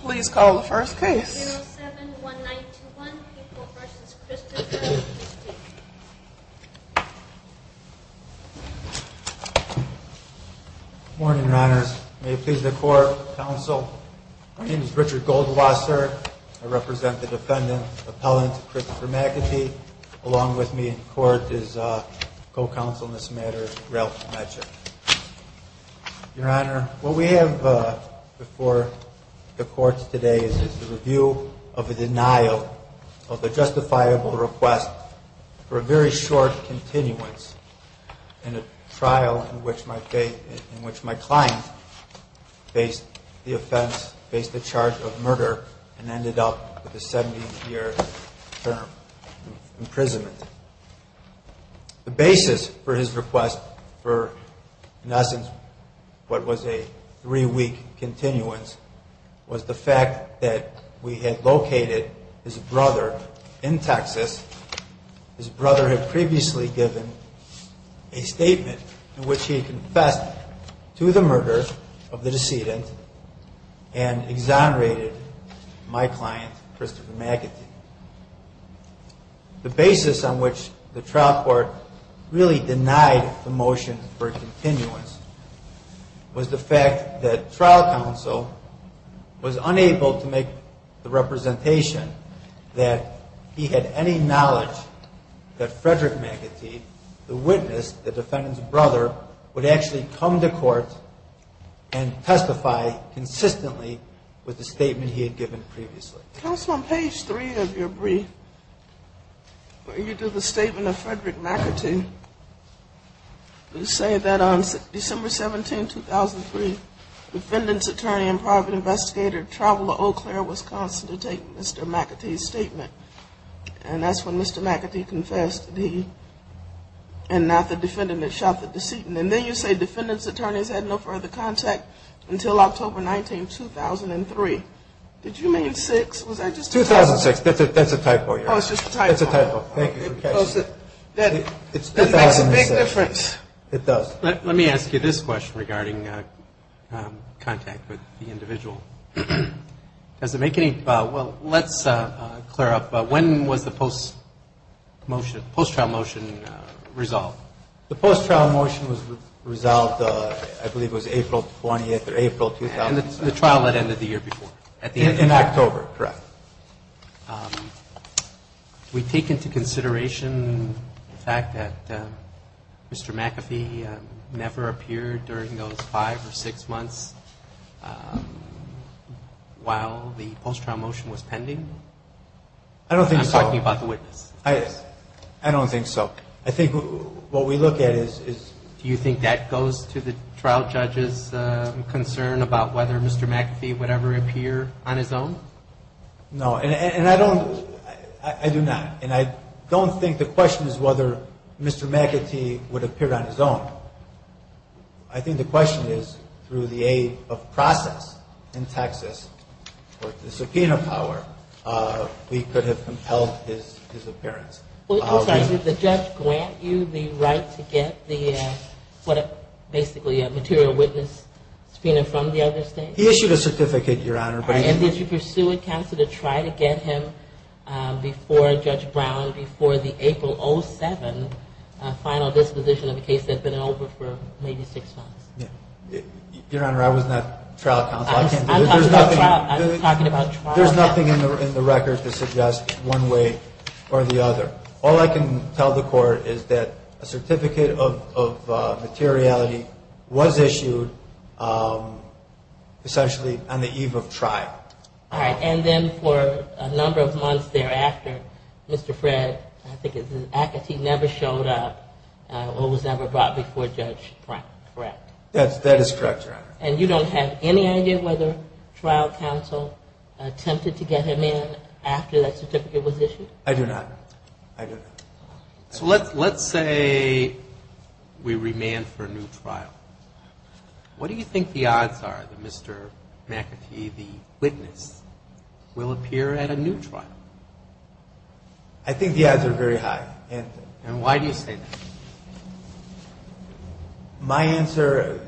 Please call the first case. 071921 People v. Christopher McAtee. Good morning, Your Honors. May it please the Court, Counsel. My name is Richard Goldwasser. I represent the defendant, Appellant Christopher McAtee. Along with me in court is co-counsel in this matter, Ralph Medjik. Your Honor, what we have before the courts today is the review of a denial of a justifiable request for a very short continuance in a trial in which my client faced the offense, faced the charge of murder, and ended up with a 70-year term of imprisonment. The basis for his request for, in essence, what was a three-week continuance, was the fact that we had located his brother in Texas. His brother had previously given a statement in which he confessed to the murder of the decedent and exonerated my client, Christopher McAtee. The basis on which the trial court really denied the motion for continuance was the fact that trial counsel was unable to make the representation that he had any knowledge that Frederick McAtee, the witness, the defendant's brother, would actually come to court and testify consistently with the statement he had given previously. Counsel, on page 3 of your brief, where you do the statement of Frederick McAtee, you say that on December 17, 2003, defendant's attorney and private investigator traveled to Eau Claire, Wisconsin to take Mr. McAtee's statement. And that's when Mr. McAtee confessed that he and not the defendant had shot the decedent. And then you say defendant's attorneys had no further contact until October 19, 2003. Did you mean 6? Was that just a typo? 2006. That's a typo, Your Honor. Oh, it's just a typo. It's a typo. Thank you. It makes a big difference. It does. Let me ask you this question regarding contact with the individual. Does it make any – well, let's clear up. When was the post-trial motion resolved? The post-trial motion was resolved, I believe, was April 20th or April – And the trial had ended the year before. In October, correct. We take into consideration the fact that Mr. McAtee never appeared during those 5 or 6 months while the post-trial motion was pending? I don't think so. I'm talking about the witness. I don't think so. I think what we look at is – Do you think that goes to the trial judge's concern about whether Mr. McAtee would ever appear on his own? No. And I don't – I do not. And I don't think the question is whether Mr. McAtee would appear on his own. I think the question is, through the aid of process in Texas or the subpoena power, we could have compelled his appearance. I'm sorry. Did the judge grant you the right to get the – basically a material witness subpoena from the other state? He issued a certificate, Your Honor. And did you pursue it, counsel, to try to get him before Judge Brown before the April 07th final disposition of a case that had been over for maybe 6 months? Your Honor, I was not trial counsel. I can't do this. I'm talking about trial. There's nothing in the record to suggest one way or the other. All I can tell the court is that a certificate of materiality was issued essentially on the eve of trial. All right. And then for a number of months thereafter, Mr. Fred, I think it's McAtee, never showed up or was never brought before Judge Brown, correct? That is correct, Your Honor. And you don't have any idea whether trial counsel attempted to get him in after that certificate was issued? I do not. I do not. So let's say we remand for a new trial. What do you think the odds are that Mr. McAtee, the witness, will appear at a new trial? I think the odds are very high. And why do you say that? My answer,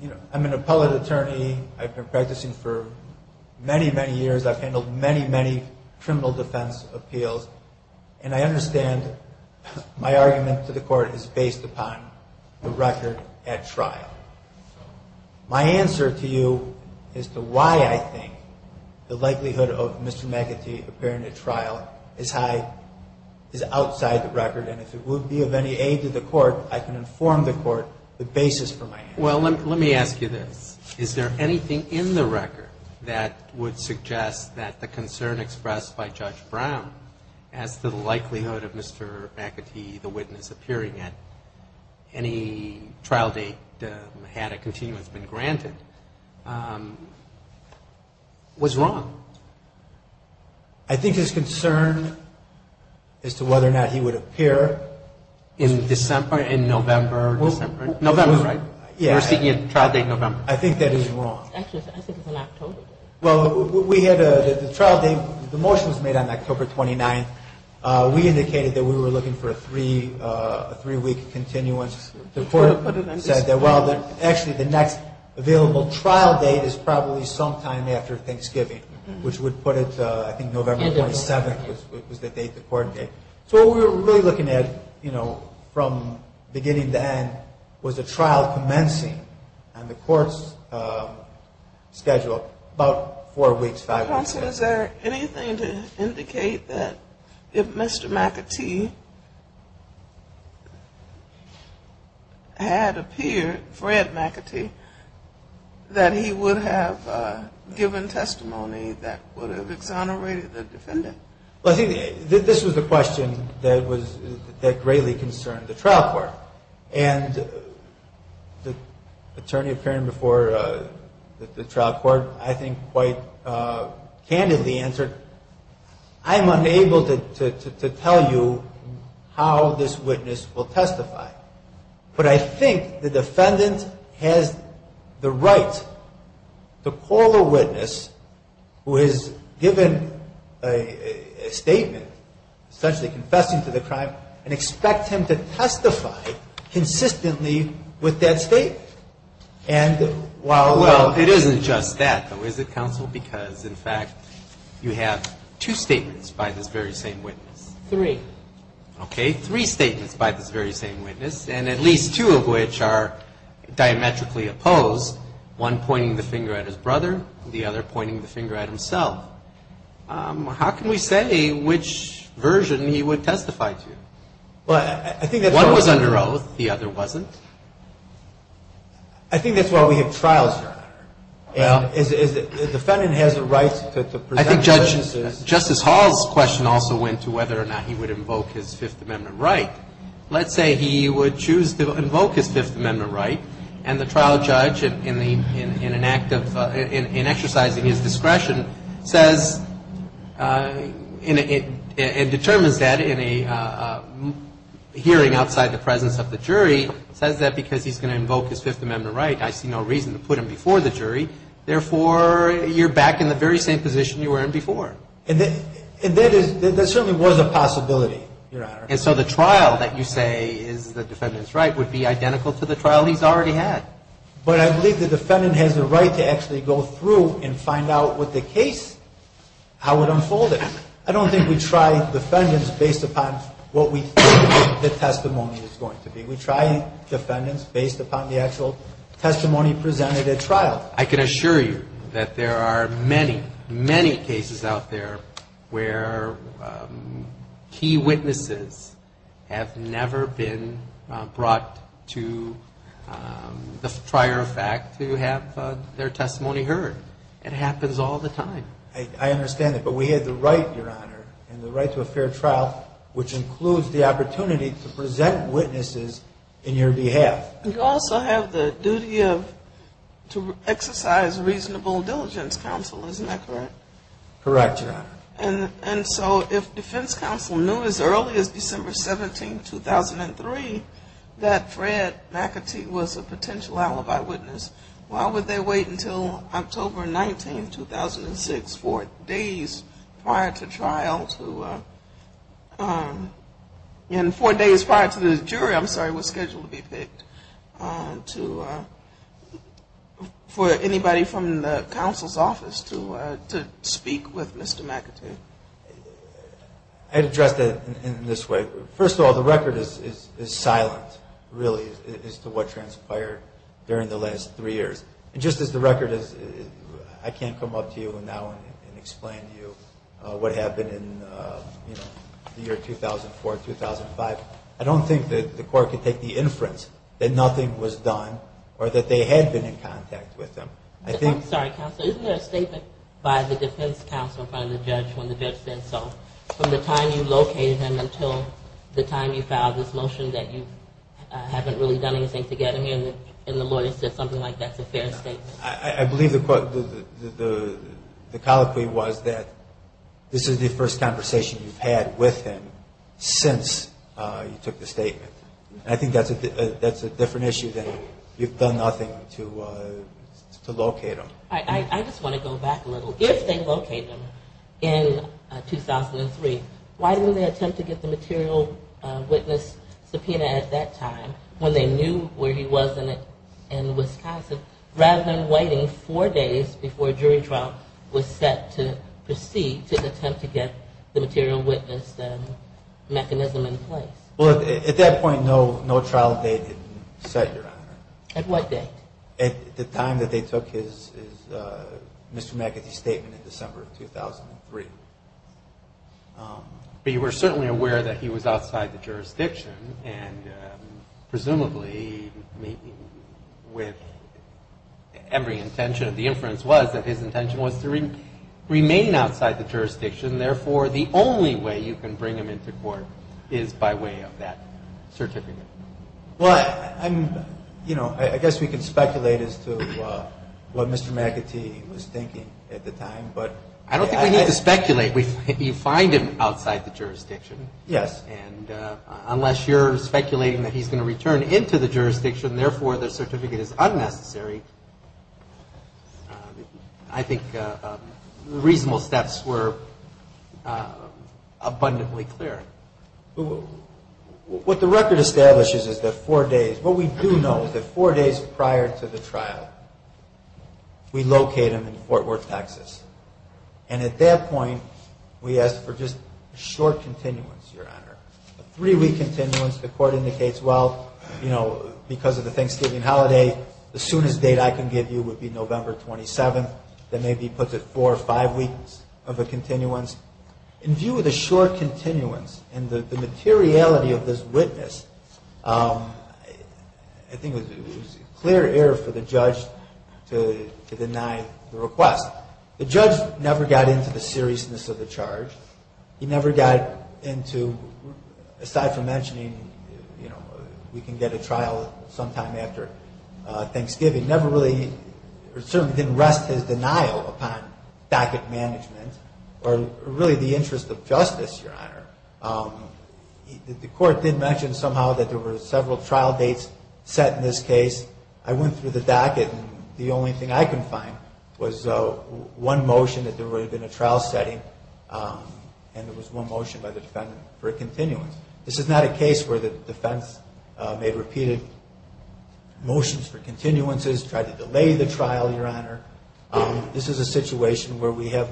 you know, I'm an appellate attorney. I've been practicing for many, many years. I've handled many, many criminal defense appeals. And I understand my argument to the court is based upon the record at trial. My answer to you is to why I think the likelihood of Mr. McAtee appearing at trial is high, is outside the record. And if it would be of any aid to the court, I can inform the court the basis for my answer. Well, let me ask you this. Is there anything in the record that would suggest that the concern expressed by Judge Brown as to the likelihood of Mr. McAtee, the witness, appearing at any trial date had a continuance been granted, was wrong? I think his concern as to whether or not he would appear in December, in November, December. November, right? Yeah. We're speaking of trial date November. I think that is wrong. Actually, I think it's an October date. Well, we had a trial date. The motion was made on October 29th. We indicated that we were looking for a three-week continuance. The court said that, well, actually, the next available trial date is probably sometime after Thanksgiving, which would put it, I think, November 27th was the date the court gave. So what we were really looking at, you know, from beginning to end, was a trial commencing on the court's schedule, about four weeks, five weeks. Counsel, is there anything to indicate that if Mr. McAtee had appeared, Fred McAtee, that he would have given testimony that would have exonerated the defendant? Well, I think this was a question that greatly concerned the trial court. And the attorney appearing before the trial court, I think, quite candidly answered, I'm unable to tell you how this witness will testify. But I think the defendant has the right to call a witness who has given a statement, essentially confessing to the crime, and expect him to testify consistently with that statement. And while we're... Well, it isn't just that, though, is it, Counsel? Because, in fact, you have two statements by this very same witness. Three. Okay. Three statements by this very same witness, and at least two of which are diametrically opposed, one pointing the finger at his brother, the other pointing the finger at himself. How can we say which version he would testify to? Well, I think that's... One was under oath, the other wasn't. I think that's why we have trials here. Well... The defendant has the right to present... I think Justice Hall's question also went to whether or not he would invoke his Fifth Amendment right. Let's say he would choose to invoke his Fifth Amendment right, and the trial judge, in exercising his discretion, says and determines that in a hearing outside the presence of the jury, says that because he's going to invoke his Fifth Amendment right, I see no reason to put him before the jury. Therefore, you're back in the very same position you were in before. And there certainly was a possibility, Your Honor. And so the trial that you say is the defendant's right would be identical to the trial he's already had. But I believe the defendant has the right to actually go through and find out with the case how it unfolded. I don't think we try defendants based upon what we think the testimony is going to be. We try defendants based upon the actual testimony presented at trial. I can assure you that there are many, many cases out there where key witnesses have never been brought to the trial. It's just a prior fact to have their testimony heard. It happens all the time. I understand that. But we had the right, Your Honor, and the right to a fair trial, which includes the opportunity to present witnesses in your behalf. You also have the duty to exercise reasonable diligence, Counsel, isn't that correct? Correct, Your Honor. And so if defense counsel knew as early as December 17, 2003, that Fred McAtee was a potential alibi witness, why would they wait until October 19, 2006, four days prior to trial to, and four days prior to the jury, I'm sorry, was scheduled to be picked, for anybody from the counsel's office to speak with Mr. McAtee? I'd address that in this way. First of all, the record is silent, really, as to what transpired during the last three years. And just as the record is, I can't come up to you now and explain to you what happened in the year 2004, 2005. I don't think that the court could take the inference that nothing was done or that they had been in contact with him. I'm sorry, Counsel, isn't there a statement by the defense counsel in front of the judge when the judge said so? From the time you located him until the time you filed this motion that you haven't really done anything together, and the lawyer said something like that's a fair statement? I believe the colloquy was that this is the first conversation you've had with him since you took the statement. I think that's a different issue that you've done nothing to locate him. I just want to go back a little. If they locate him in 2003, why didn't they attempt to get the material witness subpoena at that time, when they knew where he was in Wisconsin, rather than waiting four days before a jury trial was set to proceed to attempt to get the material witness mechanism in place? Well, at that point, no trial date had been set, Your Honor. At what date? At the time that they took his misdemeanor statement in December of 2003. But you were certainly aware that he was outside the jurisdiction, and presumably with every intention of the inference was that his intention was to remain outside the jurisdiction. Therefore, the only way you can bring him into court is by way of that certificate. Well, I guess we can speculate as to what Mr. McAtee was thinking at the time. I don't think we need to speculate. You find him outside the jurisdiction. Yes. And unless you're speculating that he's going to return into the jurisdiction, therefore the certificate is unnecessary, I think reasonable steps were abundantly clear. What the record establishes is that four days, what we do know is that four days prior to the trial, we locate him in Fort Worth, Texas. And at that point, we ask for just a short continuance, Your Honor, a three-week continuance. The court indicates, well, you know, because of the Thanksgiving holiday, the soonest date I can give you would be November 27th. Then maybe he puts it four or five weeks of a continuance. In view of the short continuance and the materiality of this witness, I think it was a clear error for the judge to deny the request. The judge never got into the seriousness of the charge. He never got into, aside from mentioning, you know, we can get a trial sometime after Thanksgiving, never really certainly didn't rest his denial upon docket management The court did mention somehow that there were several trial dates set in this case. I went through the docket and the only thing I could find was one motion that there would have been a trial setting and there was one motion by the defendant for a continuance. This is not a case where the defense made repeated motions for continuances, tried to delay the trial, Your Honor. This is a situation where we have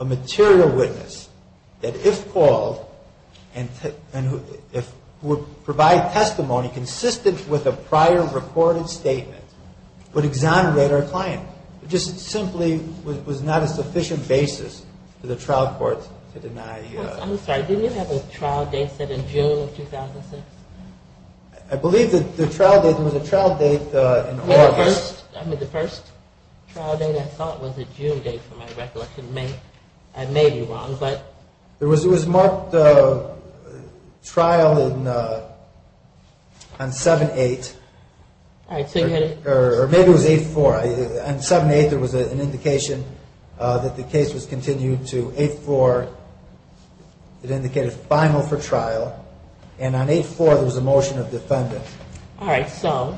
a material witness that if called and would provide testimony consistent with a prior recorded statement would exonerate our client. It just simply was not a sufficient basis for the trial court to deny. I'm sorry. Didn't you have a trial date set in June of 2006? I believe that the trial date was a trial date in August. The first trial date I thought was a June date for my recollection. I may be wrong, but. It was marked trial on 7-8. All right. Or maybe it was 8-4. On 7-8 there was an indication that the case was continued to 8-4. It indicated final for trial. And on 8-4 there was a motion of defendant. All right. So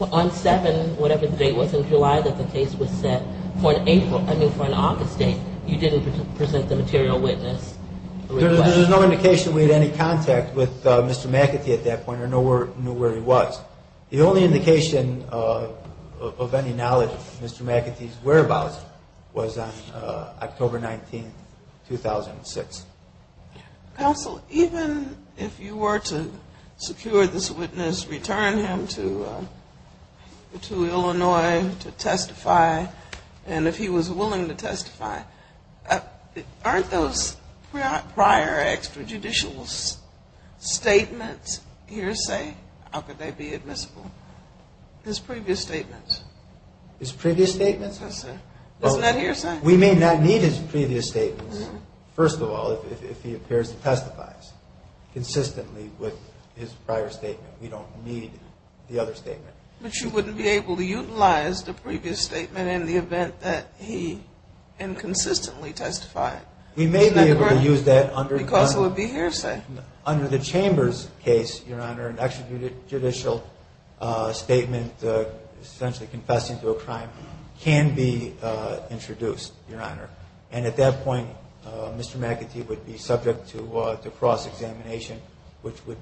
on 7, whatever the date was in July that the case was set, for an August date you didn't present the material witness. There was no indication we had any contact with Mr. McAtee at that point or knew where he was. The only indication of any knowledge of Mr. McAtee's whereabouts was on October 19, 2006. Counsel, even if you were to secure this witness, return him to Illinois to testify, and if he was willing to testify, aren't those prior extrajudicial statements hearsay? How could they be admissible? His previous statements. His previous statements? Yes, sir. Isn't that hearsay? We may not need his previous statements, first of all, if he appears to testify consistently with his prior statement. We don't need the other statement. But you wouldn't be able to utilize the previous statement in the event that he inconsistently testified. Isn't that correct? We may be able to use that under the Chamber's case, Your Honor. An extrajudicial statement, essentially confessing to a crime, can be introduced, Your Honor. And at that point, Mr. McAtee would be subject to cross-examination, which would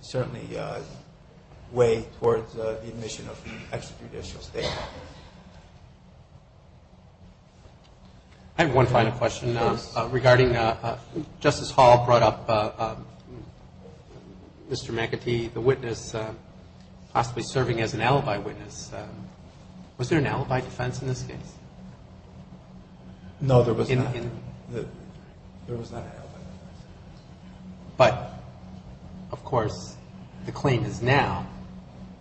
certainly weigh towards the admission of extrajudicial statements. I have one final question. Yes. Regarding Justice Hall brought up Mr. McAtee, the witness possibly serving as an alibi witness, was there an alibi defense in this case? No, there was not. There was not an alibi defense. But, of course, the claim is now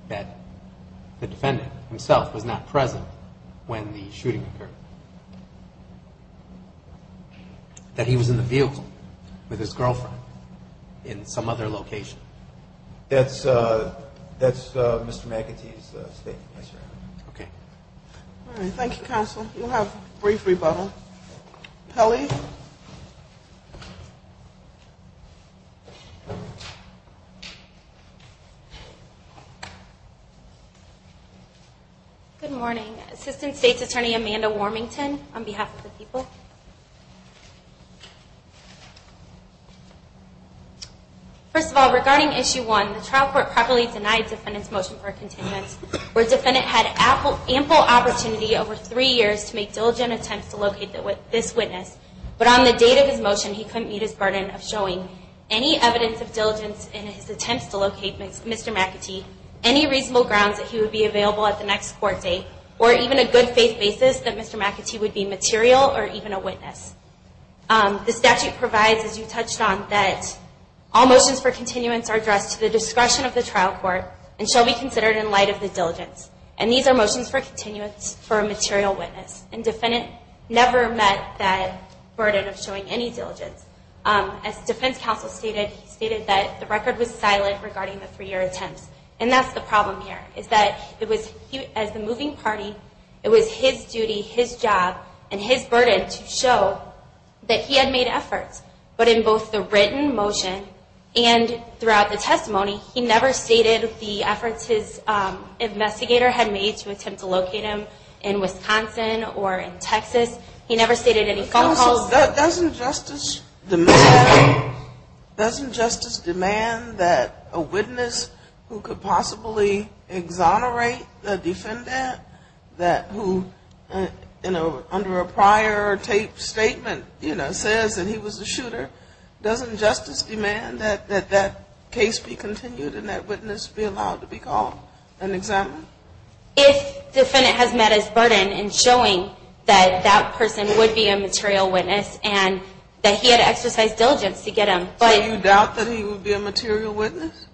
that the defendant himself was not present when the shooting occurred, that he was in the vehicle with his girlfriend in some other location. That's Mr. McAtee's statement, yes, Your Honor. Okay. All right. Thank you, Counsel. We'll have a brief rebuttal. Pelley. Good morning. Assistant State's Attorney Amanda Warmington, on behalf of the people. First of all, regarding Issue 1, the trial court properly denied the defendant's motion for a contingency where the defendant had ample opportunity over three years to make diligent attempts to locate this witness. But on the date of his motion, he couldn't meet his burden of showing any evidence of diligence in his attempts to locate Mr. McAtee, any reasonable grounds that he would be available at the next court date, or even a good faith basis that Mr. McAtee would be material or even a witness. The statute provides, as you touched on, that all motions for continuance are addressed to the discretion of the trial court and shall be considered in light of the diligence. And these are motions for continuance for a material witness. And the defendant never met that burden of showing any diligence. As Defense Counsel stated, he stated that the record was silent regarding the three-year attempts. And that's the problem here, is that it was, as the moving party, it was his duty, his job, and his burden to show that he had made efforts. But in both the written motion and throughout the testimony, he never stated the efforts his investigator had made to attempt to locate him in Wisconsin or in Texas. He never stated any phone calls. Doesn't justice demand that a witness who could possibly exonerate the defendant, that who, you know, under a prior taped statement, you know, says that he was a shooter, doesn't justice demand that that case be continued and that witness be allowed to be called and examined? If the defendant has met his burden in showing that that person would be a material witness and that he had exercised diligence to get him. So you doubt that he would be a material witness?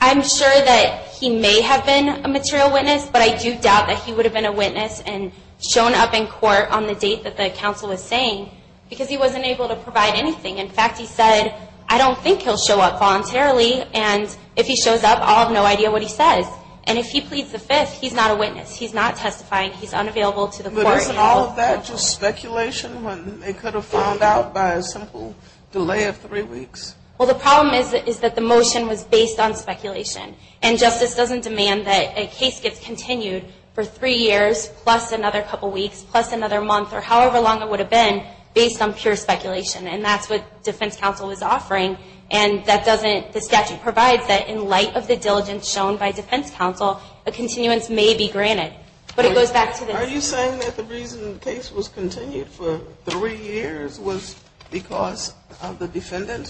I'm sure that he may have been a material witness, but I do doubt that he would have been a witness and shown up in court on the date that the counsel was saying, because he wasn't able to provide anything. In fact, he said, I don't think he'll show up voluntarily, and if he shows up, I'll have no idea what he says. And if he pleads the fifth, he's not a witness. He's not testifying. He's unavailable to the court. But isn't all of that just speculation when they could have found out by a simple delay of three weeks? Well, the problem is that the motion was based on speculation. And justice doesn't demand that a case gets continued for three years plus another couple weeks plus another month or however long it would have been based on pure speculation. And that's what defense counsel is offering. And that doesn't – the statute provides that in light of the diligence shown by defense counsel, a continuance may be granted. But it goes back to the –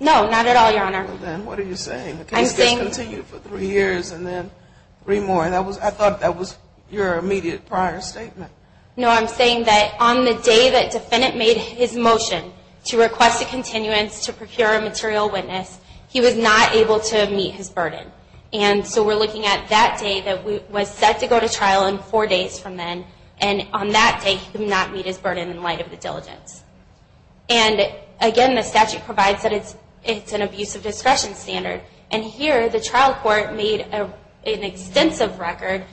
No, not at all, Your Honor. Then what are you saying? The case gets continued for three years and then three more. And I thought that was your immediate prior statement. No, I'm saying that on the day that defendant made his motion to request a continuance to procure a material witness, he was not able to meet his burden. And so we're looking at that day that was set to go to trial and four days from then. And on that day, he could not meet his burden in light of the diligence. And again, the statute provides that it's an abuse of discretion standard. And here, the trial court made an extensive record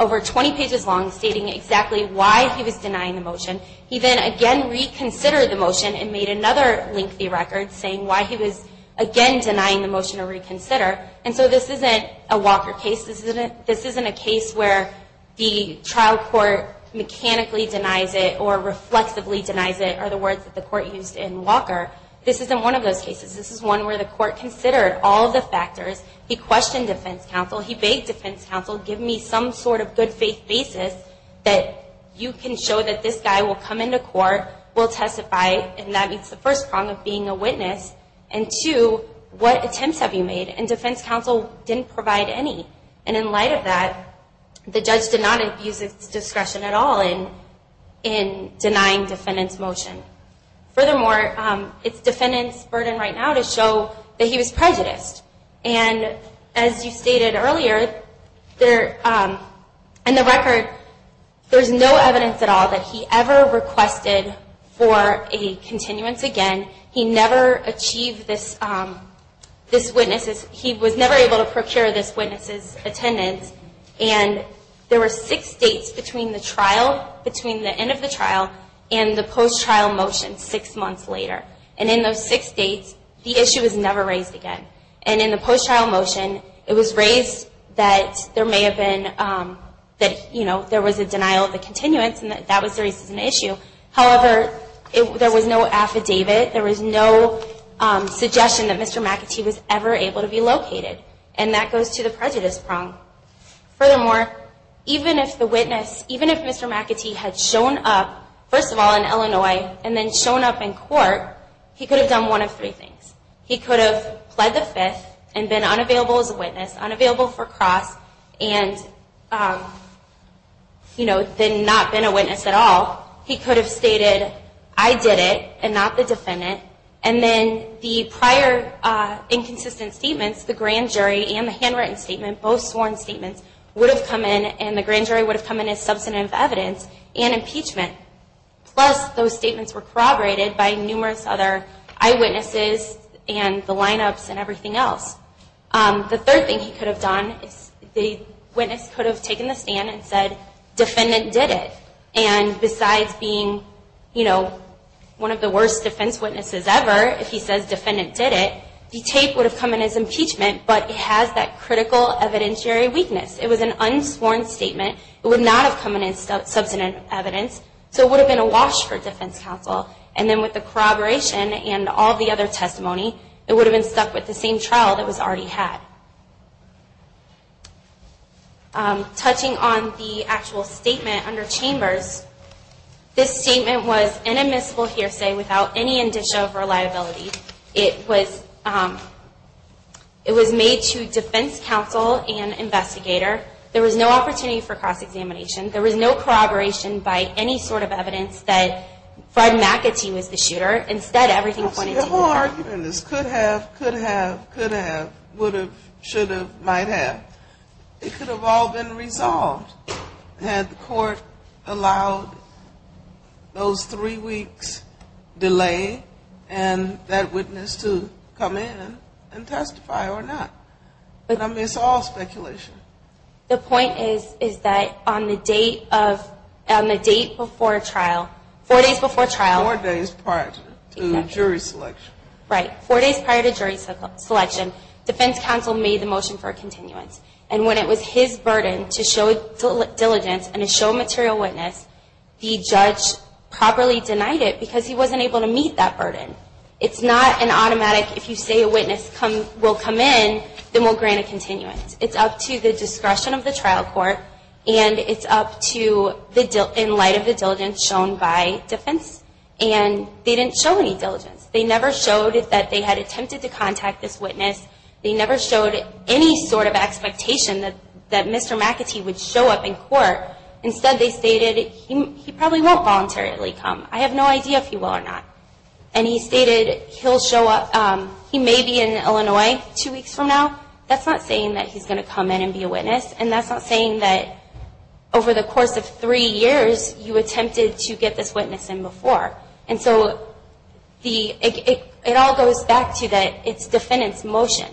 over 20 pages long stating exactly why he was denying the motion. He then again reconsidered the motion and made another lengthy record saying why he was again denying the motion to reconsider. And so this isn't a Walker case. This isn't a case where the trial court mechanically denies it or reflexively denies it are the words that the court used in Walker. This isn't one of those cases. This is one where the court considered all the factors. He questioned defense counsel. He begged defense counsel, give me some sort of good faith basis that you can show that this guy will come into court, will testify, and that meets the first problem of being a witness. And two, what attempts have you made? And defense counsel didn't provide any. And in light of that, the judge did not abuse his discretion at all in denying defendant's motion. Furthermore, it's defendant's burden right now to show that he was prejudiced. And as you stated earlier, in the record, there's no evidence at all that he ever requested for a continuance again. He never achieved this witness's, he was never able to procure this witness's attendance. And there were six dates between the trial, between the end of the trial and the post-trial motion six months later. And in those six dates, the issue was never raised again. And in the post-trial motion, it was raised that there may have been, that, you know, there was a denial of the continuance and that that was raised as an issue. However, there was no affidavit, there was no suggestion that Mr. McAtee was ever able to be located. And that goes to the prejudice prong. Furthermore, even if the witness, even if Mr. McAtee had shown up, first of all, in Illinois, and then shown up in court, he could have done one of three things. He could have pled the fifth and been unavailable as a witness, unavailable for cross, and, you know, then not been a witness at all. He could have stated, I did it, and not the defendant. And then the prior inconsistent statements, the grand jury and the handwritten statement, both sworn statements, would have come in and the grand jury would have come in as substantive evidence and impeachment. Plus, those statements were corroborated by numerous other eyewitnesses and the lineups and everything else. The third thing he could have done is the witness could have taken the stand and said, defendant did it. And besides being, you know, one of the worst defense witnesses ever, if he says defendant did it, the tape would have come in as impeachment, but it has that critical evidentiary weakness. It was an unsworn statement. It would not have come in as substantive evidence, so it would have been a wash for defense counsel. And then with the corroboration and all the other testimony, it would have been stuck with the same trial that was already had. Touching on the actual statement under Chambers, this statement was an admissible hearsay without any indiction of reliability. It was made to defense counsel and investigator. There was no opportunity for cross-examination. There was no corroboration by any sort of evidence that Fred McAtee was the shooter. Instead, everything pointed to you. The whole argument is could have, could have, could have, would have, should have, might have. It could have all been resolved had the court allowed those three weeks delay and that witness to come in and testify or not. I mean, it's all speculation. The point is, is that on the date of, on the date before trial, four days before trial. Four days prior to jury selection. Right. Four days prior to jury selection, defense counsel made the motion for a continuance. And when it was his burden to show diligence and to show material witness, the judge properly denied it because he wasn't able to meet that burden. It's not an automatic, if you say a witness will come in, then we'll grant a continuance. It's up to the discretion of the trial court and it's up to the, in light of the diligence shown by defense. And they didn't show any diligence. They never showed that they had attempted to contact this witness. They never showed any sort of expectation that Mr. McAtee would show up in court. Instead, they stated he probably won't voluntarily come. I have no idea if he will or not. And he stated he'll show up, he may be in Illinois two weeks from now. That's not saying that he's going to come in and be a witness. And that's not saying that over the course of three years, you attempted to get this witness in before. And so the, it all goes back to that it's defendant's motion.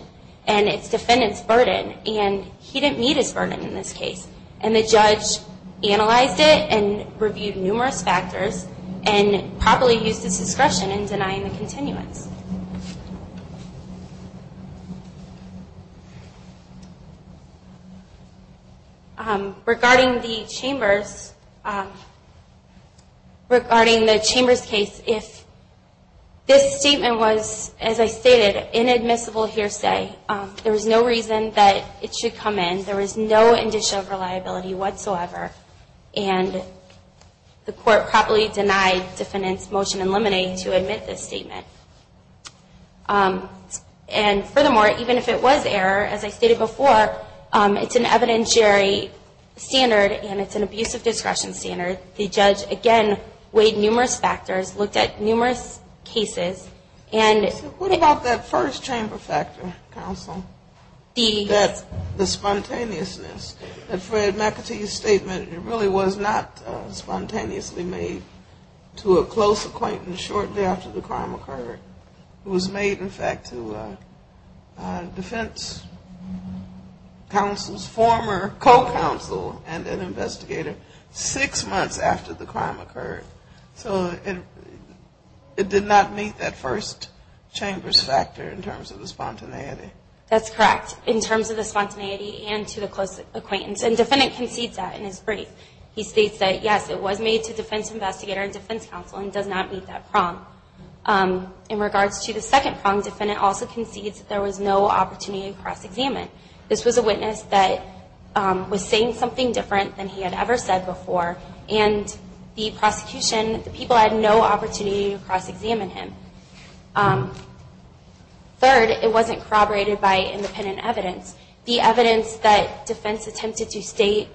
And it's defendant's burden. And he didn't meet his burden in this case. And the judge analyzed it and reviewed numerous factors and probably used his discretion in denying the continuance. Regarding the Chambers, regarding the Chambers case, if this statement was, as I stated, inadmissible hearsay. There was no reason that it should come in. There was no indicia of reliability whatsoever. And the court probably denied defendant's motion in limine to admit this statement. And furthermore, even if it was error, as I stated before, it's an evidentiary standard and it's an abusive discretion standard. The judge, again, weighed numerous factors, looked at numerous cases. What about that first Chamber factor, counsel? The spontaneousness. That Fred McAtee's statement, it really was not spontaneously made to a close acquaintance shortly after the crime occurred. It was made, in fact, to defense counsel's former co-counsel and an investigator six months after the crime occurred. So it did not meet that first Chamber's factor in terms of the spontaneity? That's correct, in terms of the spontaneity and to the close acquaintance. And the defendant concedes that in his brief. He states that, yes, it was made to defense investigator and defense counsel and does not meet that prong. In regards to the second prong, the defendant also concedes that there was no opportunity to cross-examine. This was a witness that was saying something different than he had ever said before. And the prosecution, the people had no opportunity to cross-examine him. Third, it wasn't corroborated by independent evidence. The evidence that defense attempted to state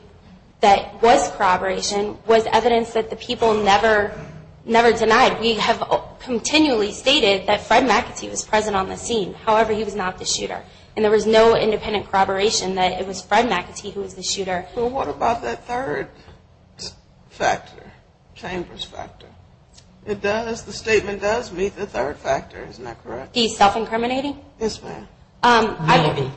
that was corroboration was evidence that the people never denied. We have continually stated that Fred McAtee was present on the scene. However, he was not the shooter. And there was no independent corroboration that it was Fred McAtee who was the shooter. Well, what about that third factor, Chamber's factor? It does, the statement does meet the third factor. Isn't that correct? He's self-incriminating? Yes, ma'am. I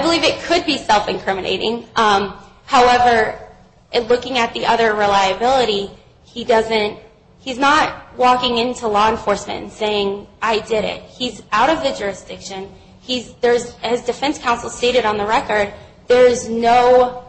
believe it could be self-incriminating. However, looking at the other reliability, he doesn't, he's not walking into law enforcement and saying, I did it. He's out of the jurisdiction. He's, there's, as defense counsel stated on the record, there's no,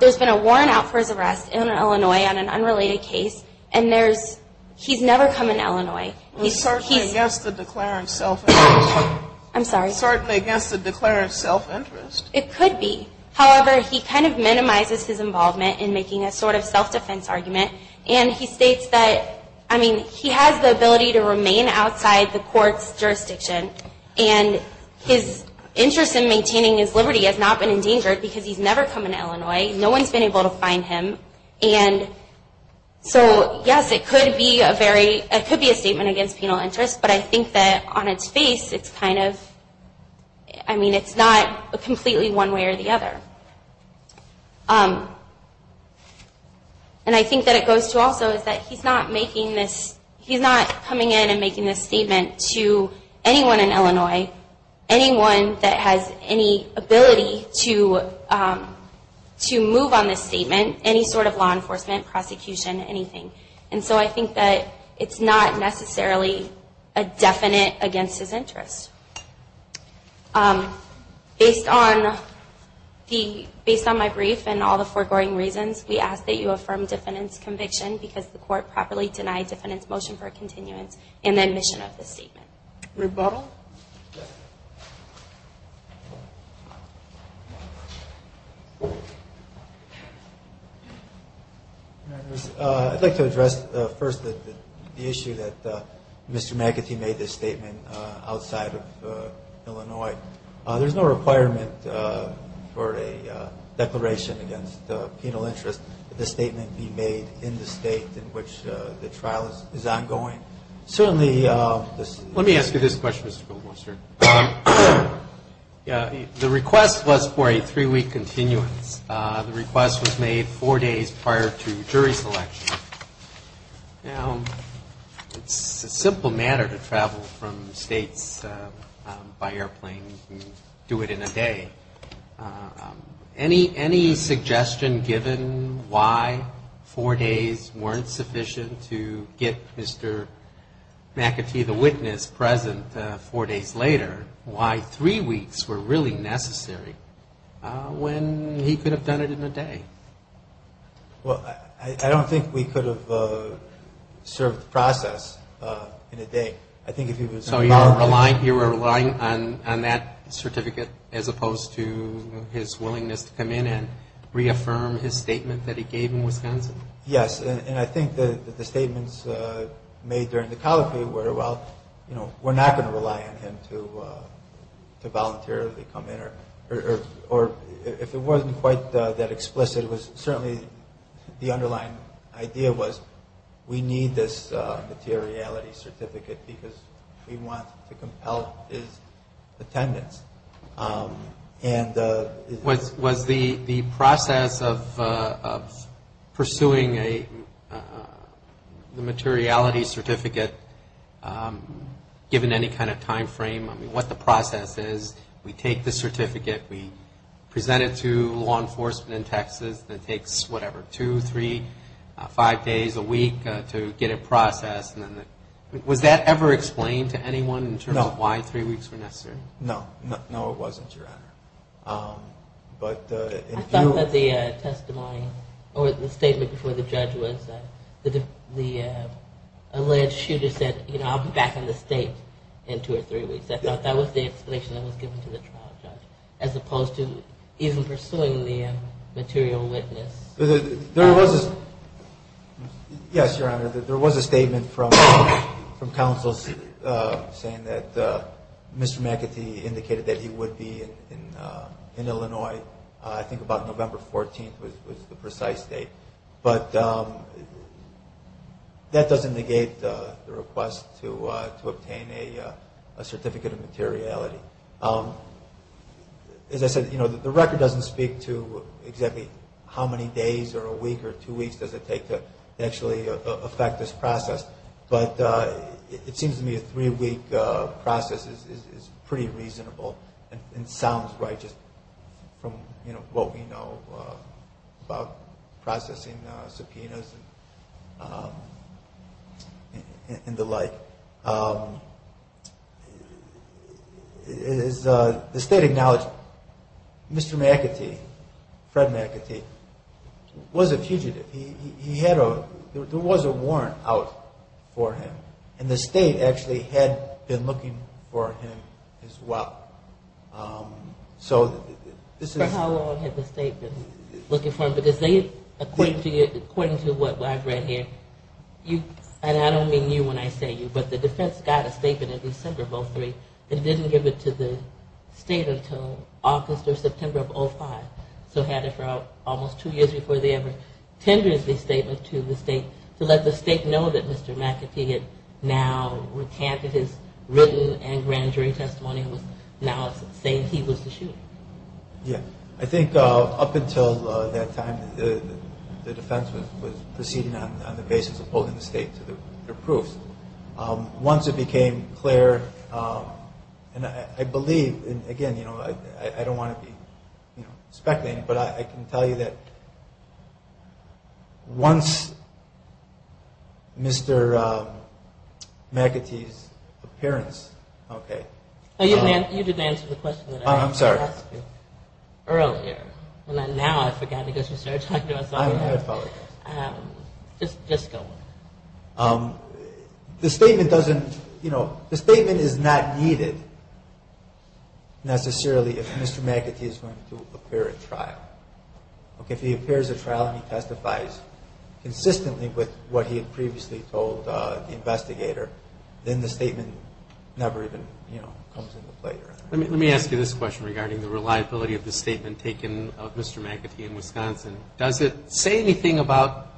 there's been a warrant out for his arrest in Illinois on an unrelated case, and there's, he's never come in Illinois. He's certainly against the declarant's self-interest. I'm sorry? Certainly against the declarant's self-interest. It could be. However, he kind of minimizes his involvement in making a sort of self-defense argument, and he states that, I mean, he has the ability to remain outside the court's jurisdiction and his interest in maintaining his liberty has not been endangered because he's never come in Illinois. No one's been able to find him. And so, yes, it could be a very, it could be a statement against penal interest, but I think that on its face, it's kind of, I mean, it's not completely one way or the other. And I think that it goes to also is that he's not making this, he's not coming in and making this statement to anyone in Illinois, anyone that has any ability to move on this statement, any sort of law enforcement, prosecution, anything. And so I think that it's not necessarily a definite against his interest. Based on the, based on my brief and all the foregoing reasons, we ask that you affirm defendant's conviction because the court properly denied defendant's motion for continuance in the admission of this statement. Rebuttal? I'd like to address first the issue that Mr. McAtee made this statement outside of the court. In the case of Illinois, there's no requirement for a declaration against penal interest that the statement be made in the state in which the trial is ongoing. Certainly, this is. Let me ask you this question, Mr. Goldwasser. The request was for a three-week continuance. The request was made four days prior to jury selection. Now, it's a simple matter to travel from states by airplane and do it in a day. Any suggestion given why four days weren't sufficient to get Mr. McAtee, the witness, present four days later, why three weeks were really necessary when he could have done it in a day? Well, I don't think we could have served the process in a day. So you were relying on that certificate as opposed to his willingness to come in and reaffirm his statement that he gave in Wisconsin? Yes, and I think the statements made during the colloquy were, well, we're not going to rely on him to voluntarily come in. Or if it wasn't quite that explicit, it was certainly the underlying idea was we need this materiality certificate because we want to compel his attendance. Was the process of pursuing the materiality certificate given any kind of timeframe? I mean, what the process is. We take the certificate, we present it to law enforcement in Texas, and it takes whatever, two, three, five days a week to get it processed. Was that ever explained to anyone in terms of why three weeks were necessary? No. No, it wasn't, Your Honor. I thought that the testimony or the statement before the judge was that the alleged shooter said, you know, I'll be back in the state in two or three weeks. I thought that was the explanation that was given to the trial judge as opposed to even pursuing the material witness. There was a statement from counsels saying that Mr. McAtee indicated that he would be in Illinois, I think about November 14th was the precise date. But that doesn't negate the request to obtain a certificate of materiality. As I said, you know, the record doesn't speak to exactly how many days or a week or two weeks does it take to actually affect this process, but it seems to me a three-week process is pretty reasonable and sounds right just from what we know about processing subpoenas and the like. The state acknowledged Mr. McAtee, Fred McAtee, was a fugitive. There was a warrant out for him. And the state actually had been looking for him as well. For how long had the state been looking for him? Because they, according to what I've read here, and I don't mean you when I say you, but the defense got a statement in December of 2003 and didn't give it to the state until August or September of 2005. So had it for almost two years before they ever tendered the statement to the state to let the state know that Mr. McAtee had now recanted his written and grand jury testimony and was now saying he was the shooter. Yeah. I think up until that time the defense was proceeding on the basis of holding the state to their proof. Once it became clear, and I believe, and again, I don't want to be speculating, but I can tell you that once Mr. McAtee's appearance, okay. You didn't answer the question that I asked you earlier. Now I forgot because you started talking about something else. I apologize. Just go on. The statement is not needed necessarily if Mr. McAtee is going to appear at trial. If he appears at trial and he testifies consistently with what he had previously told the investigator, then the statement never even comes into play. Let me ask you this question regarding the reliability of the statement taken of Mr. McAtee in Wisconsin. Does it say anything about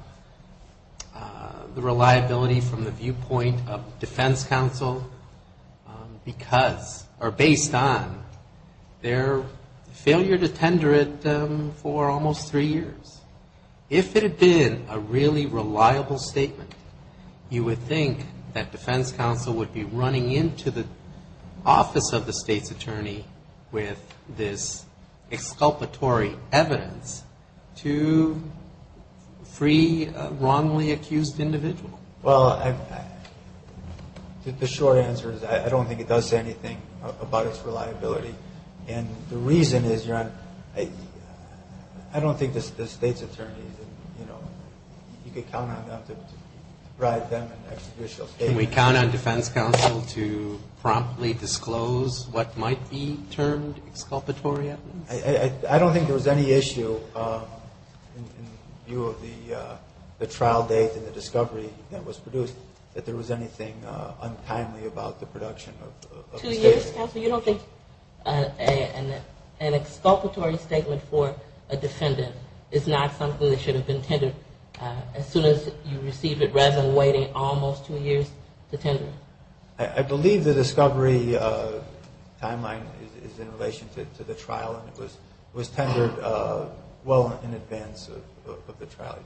the reliability from the viewpoint of defense counsel because or based on their failure to tender it for almost three years? If it had been a really reliable statement, you would think that defense counsel would be running into the office of the state's attorney with this exculpatory evidence to free a wrongly accused individual. Well, the short answer is I don't think it does say anything about its reliability. And the reason is I don't think the state's attorney, you know, you could count on them to provide them an execution case. Can we count on defense counsel to promptly disclose what might be termed exculpatory evidence? I don't think there was any issue in view of the trial date and the discovery that was produced that there was anything untimely about the production of the statement. Two years, counsel? You don't think an exculpatory statement for a defendant is not something that should have been tendered as soon as you receive it rather than waiting almost two years to tender it? I believe the discovery timeline is in relation to the trial and it was tendered well in advance of the trial.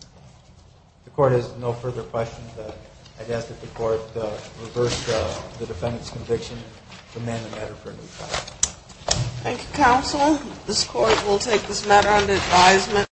If the Court has no further questions, I'd ask that the Court reverse the defendant's conviction and amend the matter for a new trial. Thank you, counsel. This Court will take this matter under advisement.